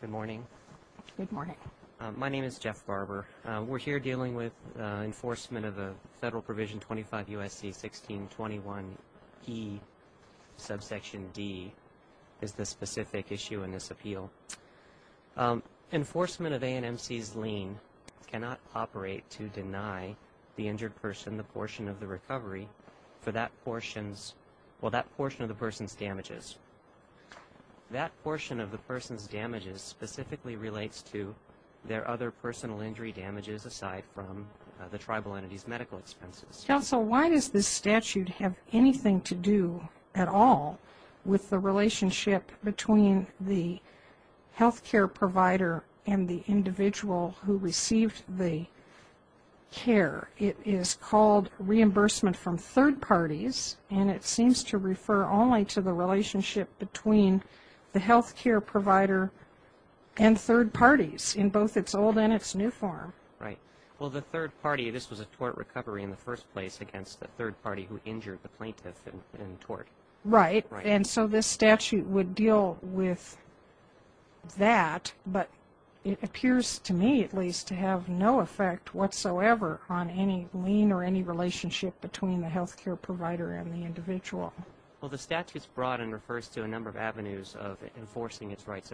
Good morning. Good morning. My name is Jeff Barber. We're here dealing with enforcement of the Federal Provision 25 U.S.C. 1621 E subsection D is the specific issue in this appeal. Enforcement of A&M C's lien cannot operate to deny the injured person the portion of the recovery for that portions, well that portion of the person's damages. That portion of the person's damages specifically relates to their other personal injury damages aside from the tribal entities medical expenses. Counsel, why does this statute have anything to do at all with the relationship between the health care provider and the individual who received the care? It is called reimbursement from third parties and it seems to refer only to the relationship between the health care provider and third parties in both its old and its new form. Right. Well the third party, this was a tort recovery in the first place against the third party who injured the plaintiff in tort. Right and so this statute would deal with that but it appears to me at least to have no effect whatsoever on any lien or any relationship between the health care provider and the individual. Well the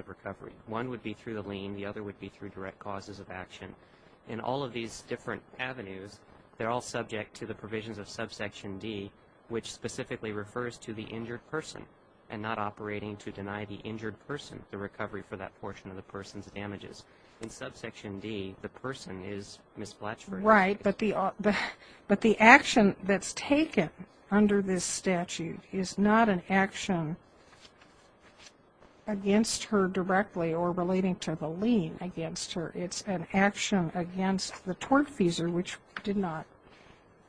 recovery. One would be through the lien, the other would be through direct causes of action. In all of these different avenues they're all subject to the provisions of subsection D which specifically refers to the injured person and not operating to deny the injured person the recovery for that portion of the person's damages. In subsection D the person is misplaced. Right but the action that's taken under this statute is not an action against her directly or relating to the lien against her. It's an action against the tortfeasor which did not,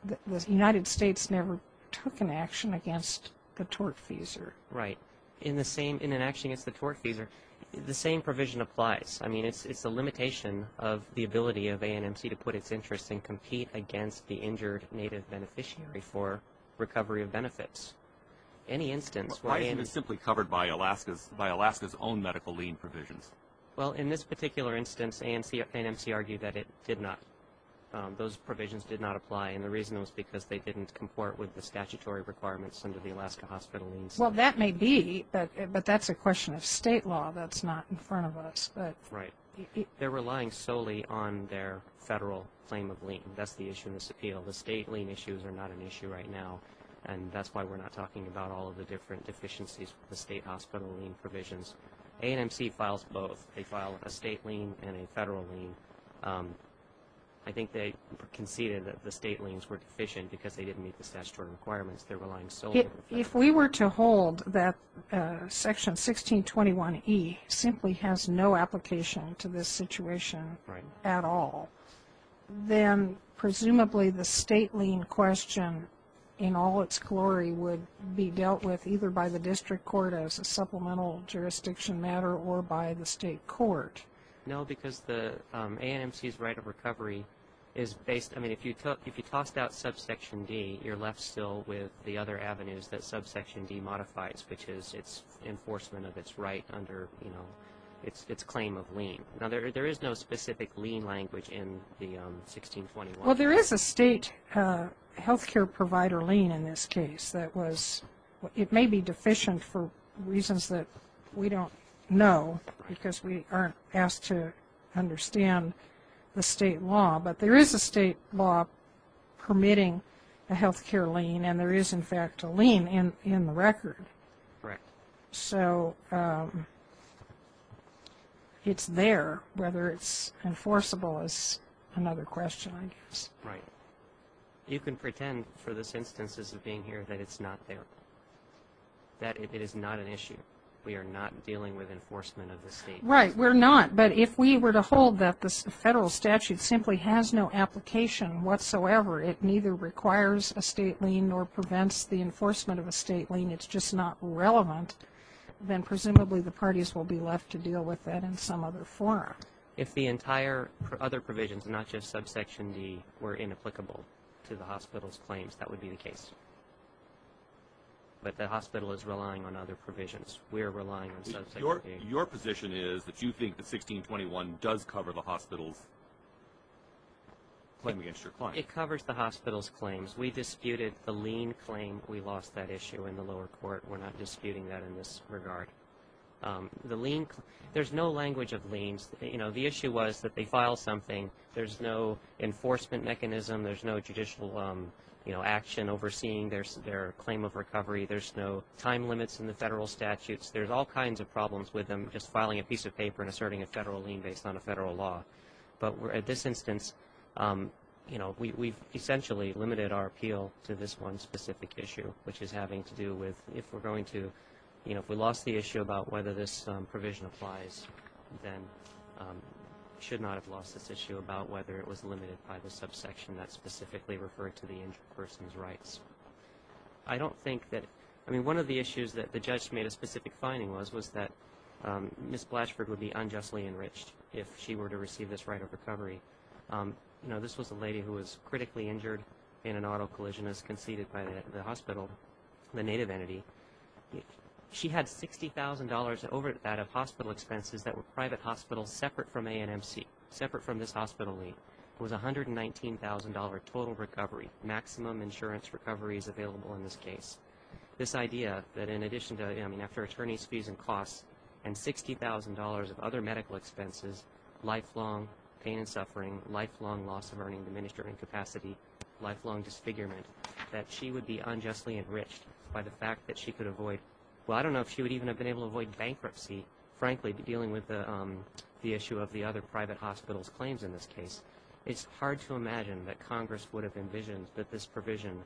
the United States never took an action against the tortfeasor. Right. In the same, in an action against the tortfeasor, the same provision applies. I mean it's a limitation of the ability of A&MC to put its interest and compete against the injured native beneficiary for recovery of benefits. Any instance. Why isn't it simply covered by Alaska's, by Alaska's own medical lien provisions? Well in this particular instance A&MC argued that it did not, those provisions did not apply and the reason was because they didn't comport with the statutory requirements under the Alaska hospital liens. Well that may be but that's a question of state law that's not in front of us. Right. They're relying solely on their federal claim of lien. That's the issue in this appeal. The state lien issues are not an issue right now and that's why we're not talking about all of the different deficiencies with the state hospital lien provisions. A&MC files both. They file a state lien and a federal lien. I think they conceded that the state liens were deficient because they didn't meet the statutory requirements. They're relying solely. If we were to hold that section 1621 E simply has no application to this in all its glory would be dealt with either by the district court as a supplemental jurisdiction matter or by the state court. No because the A&MC's right of recovery is based, I mean if you took, if you tossed out subsection D you're left still with the other avenues that subsection D modifies which is its enforcement of its right under you know its claim of lien. Now there is no specific lien language in the 1621. Well there is a state health care provider lien in this case that was, it may be deficient for reasons that we don't know because we aren't asked to understand the state law but there is a state law permitting a health care lien and there is in fact a lien in in the record. Correct. So it's there whether it's enforceable is another question I You can pretend for this instances of being here that it's not there. That it is not an issue. We are not dealing with enforcement of the state. Right we're not but if we were to hold that this federal statute simply has no application whatsoever it neither requires a state lien nor prevents the enforcement of a state lien it's just not relevant then presumably the parties will be left to deal with that in some other form. If the entire other provisions not just subsection D were inapplicable to the hospital's claims that would be the case but the hospital is relying on other provisions we're relying on subsection D. Your position is that you think the 1621 does cover the hospital's claim against your client. It covers the hospital's claims we disputed the lien claim we lost that issue in the lower court we're not disputing that in this regard. The lien, there's no language of there's no enforcement mechanism there's no judicial action overseeing their claim of recovery there's no time limits in the federal statutes there's all kinds of problems with them just filing a piece of paper and asserting a federal lien based on a federal law but we're at this instance you know we've essentially limited our appeal to this one specific issue which is having to do with if we're going to you know if we lost the issue about whether this was limited by the subsection that specifically referred to the injured person's rights. I don't think that I mean one of the issues that the judge made a specific finding was was that Miss Blatchford would be unjustly enriched if she were to receive this right of recovery. You know this was a lady who was critically injured in an auto collision as conceded by the hospital the native entity. She had $60,000 over that of hospital expenses that were private hospitals separate from A&MC, separate from this hospital lien. It was $119,000 total recovery, maximum insurance recovery is available in this case. This idea that in addition to I mean after attorney's fees and costs and $60,000 of other medical expenses, lifelong pain and suffering, lifelong loss of earning, diminished earning capacity, lifelong disfigurement that she would be unjustly enriched by the fact that she could avoid well I don't know if she would even have been able to avoid bankruptcy frankly dealing with the issue of the other private hospitals claims in this case. It's hard to imagine that Congress would have envisioned that this provision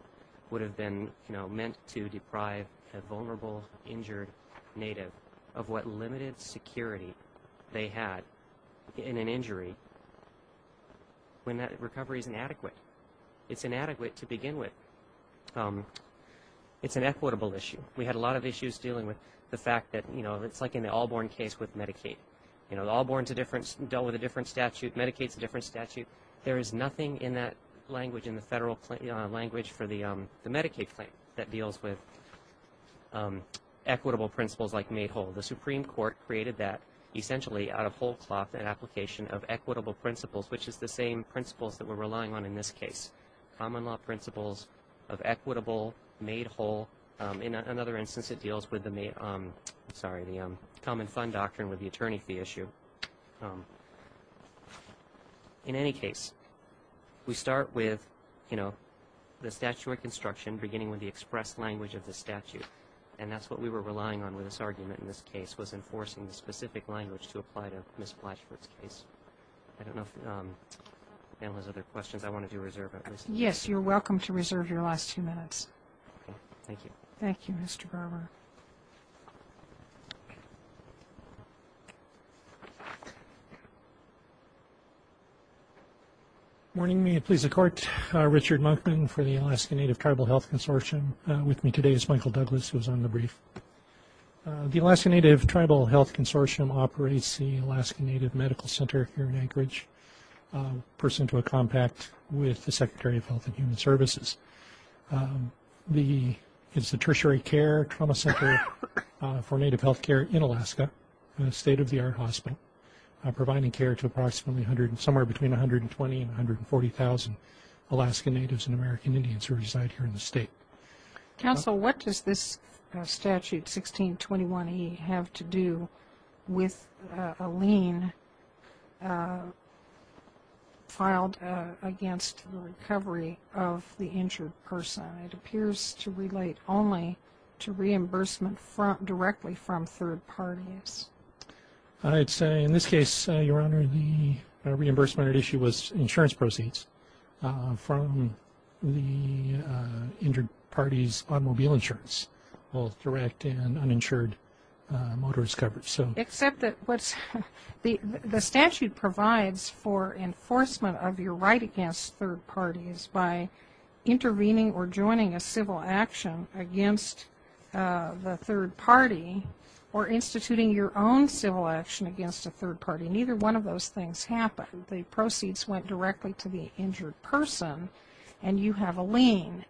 would have been you know meant to deprive a vulnerable injured native of what limited security they had in an injury when that recovery is inadequate. It's inadequate to begin with. It's an equitable issue. We had a lot of issues dealing with the fact that you know it's like in the Allborn case with Medicaid. You know Allborn's a different, dealt with a different statute, Medicaid's a different statute. There is nothing in that language in the federal language for the Medicaid claim that deals with equitable principles like made whole. The Supreme Court created that essentially out of whole cloth and application of equitable principles which is the same principles that we're relying on in this case. Common law principles of equitable made whole. In another instance it deals with the common fund doctrine with the attorney fee issue. In any case we start with you know the statute of construction beginning with the express language of the statute and that's what we were relying on with this argument in this case was enforcing the specific language to apply to Ms. Blatchford's case. I don't know if there's other questions I want to do reserve. Yes you're welcome to reserve your last two minutes. Thank you Mr. Garber. Morning may it please the court. Richard Monkman for the Alaskan Native Tribal Health Consortium. With me today is Michael Douglas who's on the brief. The Alaskan Native Tribal Health Consortium operates the Alaskan Native Medical Center here in Anchorage. Person to a compact with the Secretary of Health and Care Trauma Center for Native Health Care in Alaska in a state-of-the-art hospital providing care to approximately 100 and somewhere between 120 and 140 thousand Alaskan Natives and American Indians who reside here in the state. Counsel what does this statute 1621e have to do with a lien filed against the recovery of the injured person? It appears to relate only to reimbursement from directly from third parties. I'd say in this case your honor the reimbursement issue was insurance proceeds from the injured parties automobile insurance well direct and uninsured motorist coverage. So except that what's the the statute provides for enforcement of your right against third parties by intervening or joining a civil action against the third party or instituting your own civil action against a third party neither one of those things happen. The proceeds went directly to the injured person and you have a lien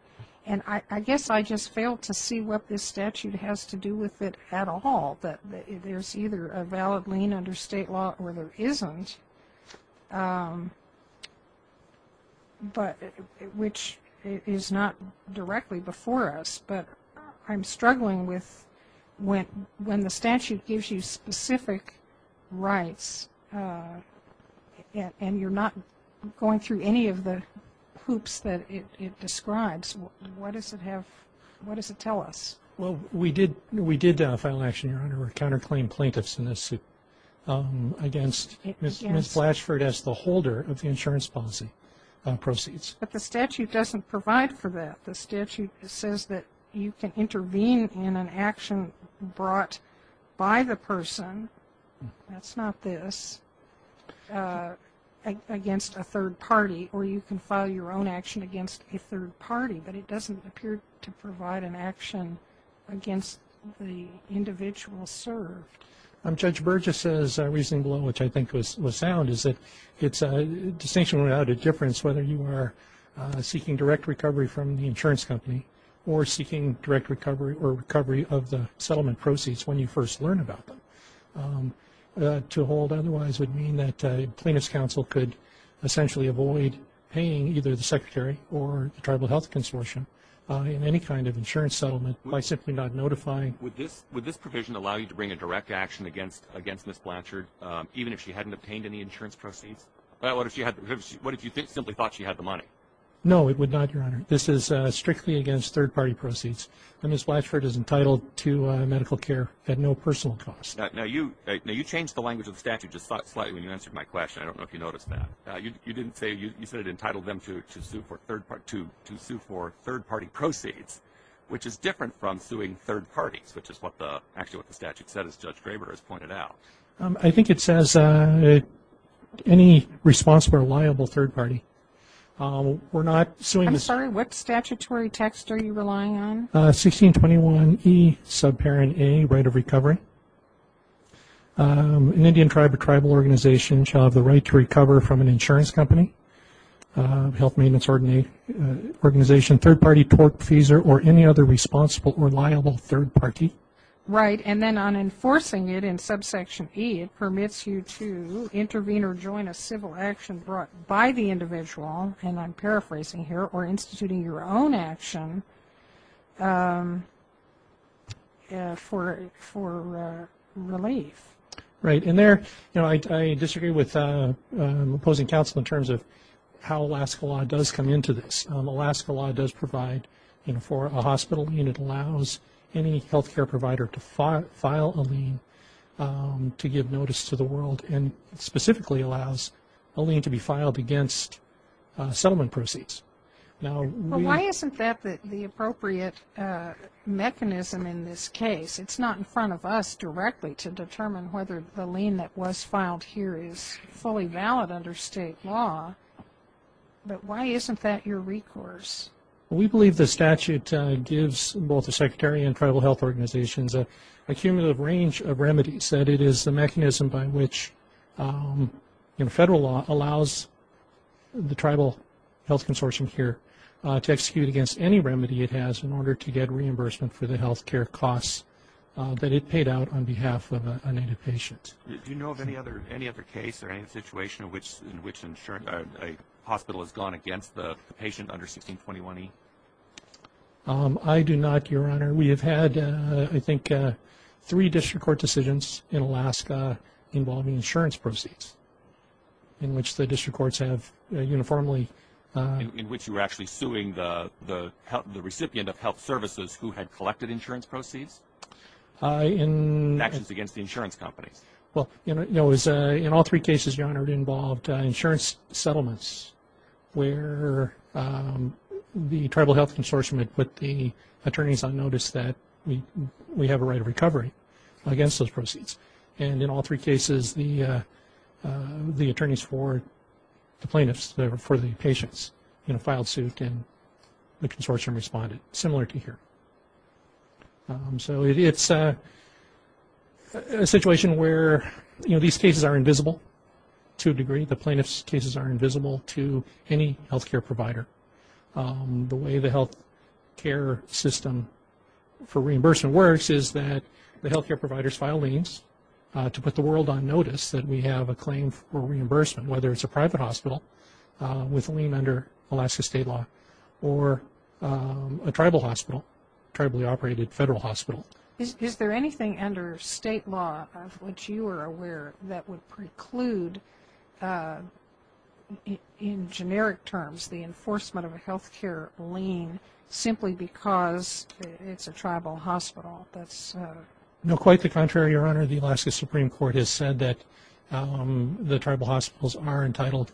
and I guess I just failed to see what this statute has to do with it at all but there's either a valid lien under state law or there isn't but which is not directly before us but I'm struggling with when when the statute gives you specific rights and you're not going through any of the hoops that it counterclaim plaintiffs in this suit against Ms. Flashford as the holder of the insurance policy proceeds. But the statute doesn't provide for that the statute says that you can intervene in an action brought by the person that's not this against a third party or you can file your own action against a third party but it doesn't appear to provide an action against the individual served. Judge Burgess says a reason below which I think was sound is that it's a distinction without a difference whether you are seeking direct recovery from the insurance company or seeking direct recovery or recovery of the settlement proceeds when you first learn about them. To hold otherwise would mean that plaintiffs counsel could essentially avoid paying either the secretary or the health consortium in any kind of insurance settlement by simply not notifying. Would this provision allow you to bring a direct action against Ms. Flashford even if she hadn't obtained any insurance proceeds? What if you simply thought she had the money? No it would not your honor this is strictly against third-party proceeds and Ms. Flashford is entitled to medical care at no personal cost. Now you changed the language of the statute just slightly when you answered my question I don't know if you noticed that you didn't say you said it entitled them to sue for third-party proceeds which is different from suing third parties which is what the statute said as Judge Draper has pointed out. I think it says any responsible or liable third party. We're not suing. I'm sorry what statutory text are you relying on? 1621 E subparent A right of recovery. An Indian tribe or tribal organization shall have the right to recover from an insurance company, health maintenance organization, third-party tort fees or or any other responsible or liable third party. Right and then on enforcing it in subsection E it permits you to intervene or join a civil action brought by the individual and I'm paraphrasing here or instituting your own action for relief. Right and there you know I disagree with opposing counsel in terms of how Alaska law does come into this. Alaska law does provide for a hospital unit allows any health care provider to file a lien to give notice to the world and specifically allows a lien to be filed against settlement proceeds. Why isn't that the appropriate mechanism in this case? It's not in front of us to determine whether the lien that was filed here is fully valid under state law but why isn't that your recourse? We believe the statute gives both the Secretary and tribal health organizations a cumulative range of remedies that it is the mechanism by which in federal law allows the tribal health consortium here to execute against any remedy it has in order to have a native patient. Do you know of any other any other case or any situation which in which a hospital has gone against the patient under 1621E? I do not your honor we have had I think three district court decisions in Alaska involving insurance proceeds in which the district courts have uniformly. In which you were actually suing the the recipient of health services who had actions against the insurance companies. Well you know it was in all three cases your honor involved insurance settlements where the tribal health consortium had put the attorneys on notice that we we have a right of recovery against those proceeds and in all three cases the the attorneys for the plaintiffs there for the patients you know filed suit and the consortium responded similar to here. So it's a situation where you know these cases are invisible to a degree the plaintiffs cases are invisible to any health care provider. The way the health care system for reimbursement works is that the health care providers file liens to put the world on notice that we have a claim for reimbursement whether it's a private hospital with a lien under Alaska state law or a tribal hospital, tribally operated federal hospital. Is there anything under state law of which you are aware that would preclude in generic terms the enforcement of a health care lien simply because it's a tribal hospital? No quite the contrary your honor the Alaska Supreme Court has that the tribal hospitals are entitled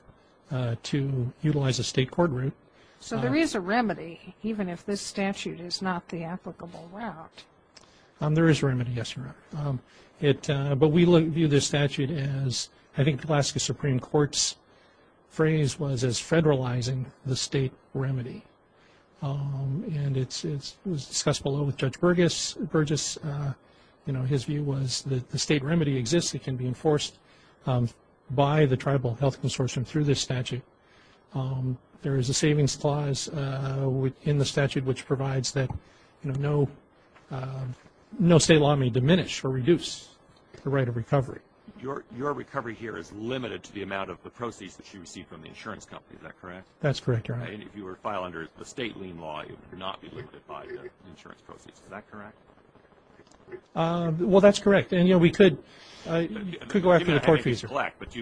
to utilize a state court route. So there is a remedy even if this statute is not the applicable route? There is remedy yes your honor. It but we look view this statute as I think Alaska Supreme Court's phrase was as federalizing the state remedy and it's discussed below with Judge Burgess you know his view was that the state remedy exists it can be enforced by the Tribal Health Consortium through this statute. There is a savings clause within the statute which provides that you know no no state law may diminish or reduce the right of recovery. Your recovery here is limited to the amount of the proceeds that you receive from the insurance company is that correct? That's correct your honor. If you were to file under the state lien law you would not be well that's correct and you know we could go after the court fees. But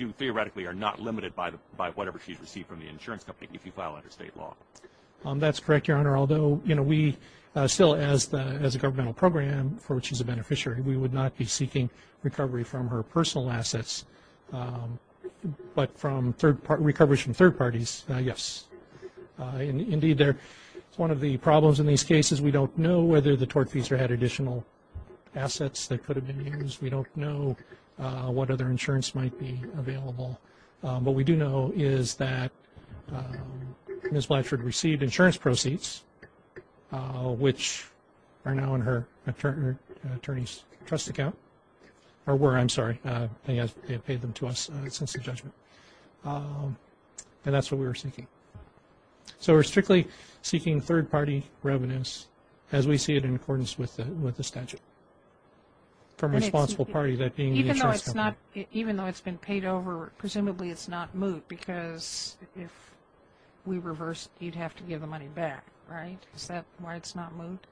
you theoretically are not limited by the by whatever she's received from the insurance company if you file under state law? That's correct your honor although you know we still as the as a governmental program for which she's a beneficiary we would not be seeking recovery from her personal assets but from third part recovery from third parties yes indeed there it's one of the tort fees or had additional assets that could have been used we don't know what other insurance might be available but we do know is that Ms. Blatchard received insurance proceeds which are now in her attorneys trust account or were I'm sorry yes they have paid them to us since the judgment and that's what we were seeking. So we're strictly seeking third-party revenues as we see it in accordance with the statute from a responsible party. Even though it's not even though it's been paid over presumably it's not moved because if we reverse you'd have to give the money back right is that why it's not moved?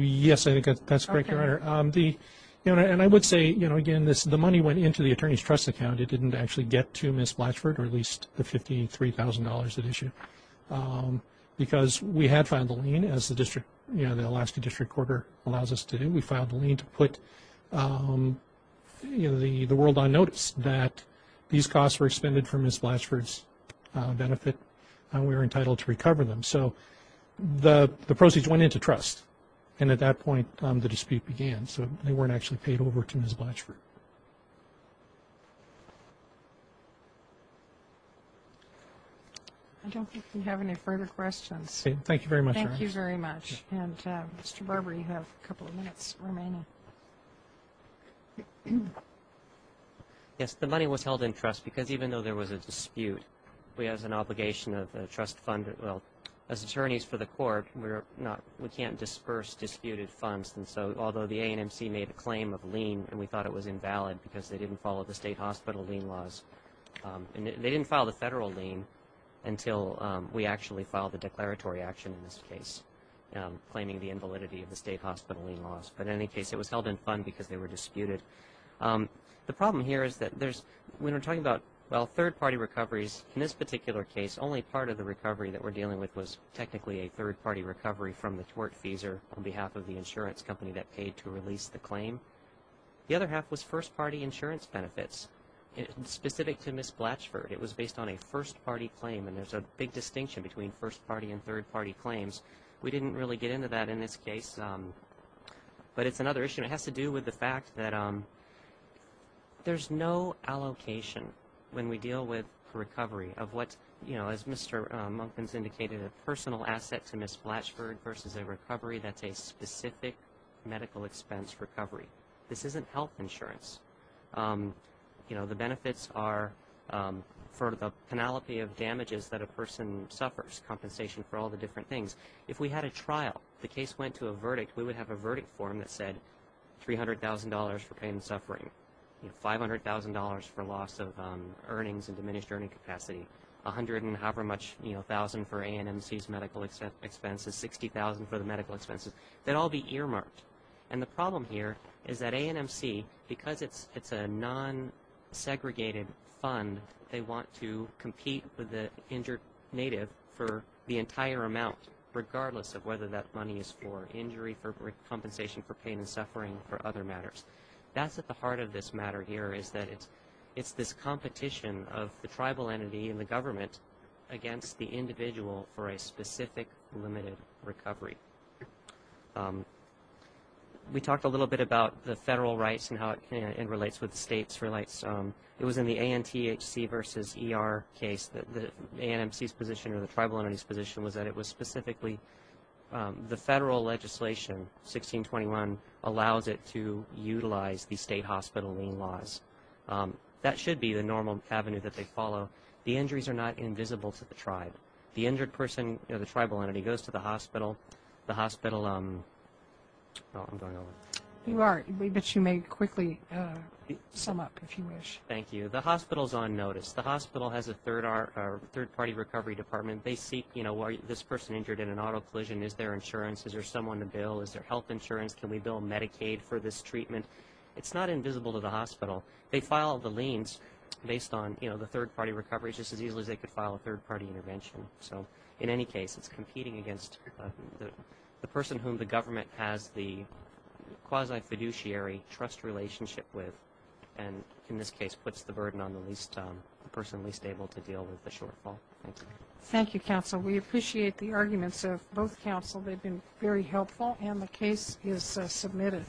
Yes I think that's correct your honor the you know and I would say you know again this the money went into the attorneys trust account it didn't actually get to Ms. Blatchard or at least the $53,000 at issue because we had filed a lien as the district you know the Alaska District Court allows us to do we filed a lien to put you know the the world on notice that these costs were expended from Ms. Blatchard's benefit and we were entitled to recover them so the the proceeds went into trust and at that point the dispute began so they weren't actually paid over to Ms. Blatchard. I don't think we have any further questions. Thank you very much. Thank you very much and Mr. Barber you have a couple of minutes remaining. Yes the money was held in trust because even though there was a dispute we as an obligation of the trust fund well as attorneys for the court we're not we can't disperse disputed funds and so although the A&MC made a claim of lien and we thought it was invalid because they didn't follow the state hospital lien laws and they didn't file the federal lien until we actually filed a declaratory action in this case claiming the invalidity of the state hospital lien laws but in any case it was held in fund because they were disputed. The problem here is that there's when we're talking about well third-party recoveries in this particular case only part of the recovery that we're dealing with was technically a third-party recovery from the tortfeasor on behalf of the insurance company that paid to release the claim. The other half was first-party insurance benefits and specific to Ms. Blatchford it was based on a first-party claim and there's a big distinction between first party and third party claims. We didn't really get into that in this case but it's another issue it has to do with the fact that there's no allocation when we deal with recovery of what you know as Mr. Monkman's indicated a personal asset to Ms. Blatchford versus a recovery that's a specific medical expense recovery. This isn't health insurance. You know the benefits are for the penalty of damages that a person suffers compensation for all the different things. If we had a trial the case went to a verdict we would have a verdict form that said $300,000 for pain and suffering, $500,000 for loss of earnings and diminished earning capacity, a hundred and however much you know $60,000 for A&MC's medical expenses, $60,000 for the medical expenses. They'd all be earmarked and the problem here is that A&MC because it's it's a non-segregated fund they want to compete with the injured native for the entire amount regardless of whether that money is for injury for compensation for pain and suffering or other matters. That's at the heart of this matter here is that it's it's this competition of the tribal entity and the government against the individual for a specific limited recovery. We talked a little bit about the federal rights and how it relates with the states. It was in the ANTHC versus ER case that the A&MC's position or the tribal entity's position was that it was specifically the federal legislation 1621 allows it to utilize the state hospital lien laws. That should be the normal avenue that they follow. The injuries are not invisible to the tribe. The injured person or the tribal entity goes to the hospital. The hospital um... You are, but you may quickly sum up if you wish. Thank you. The hospital's on notice. The hospital has a third party recovery department. They seek you know why this person injured in an auto collision. Is there insurance? Is there someone to bill? Is there health insurance? Can we bill Medicaid for this treatment? It's not invisible to the tribe. They file the liens based on you know the third party recovery just as easily as they could file a third party intervention. So in any case it's competing against the person whom the government has the quasi-fiduciary trust relationship with and in this case puts the burden on the least um the person least able to deal with the shortfall. Thank you. Thank you counsel. We appreciate the arguments of both counsel. They've been very helpful and the case is submitted.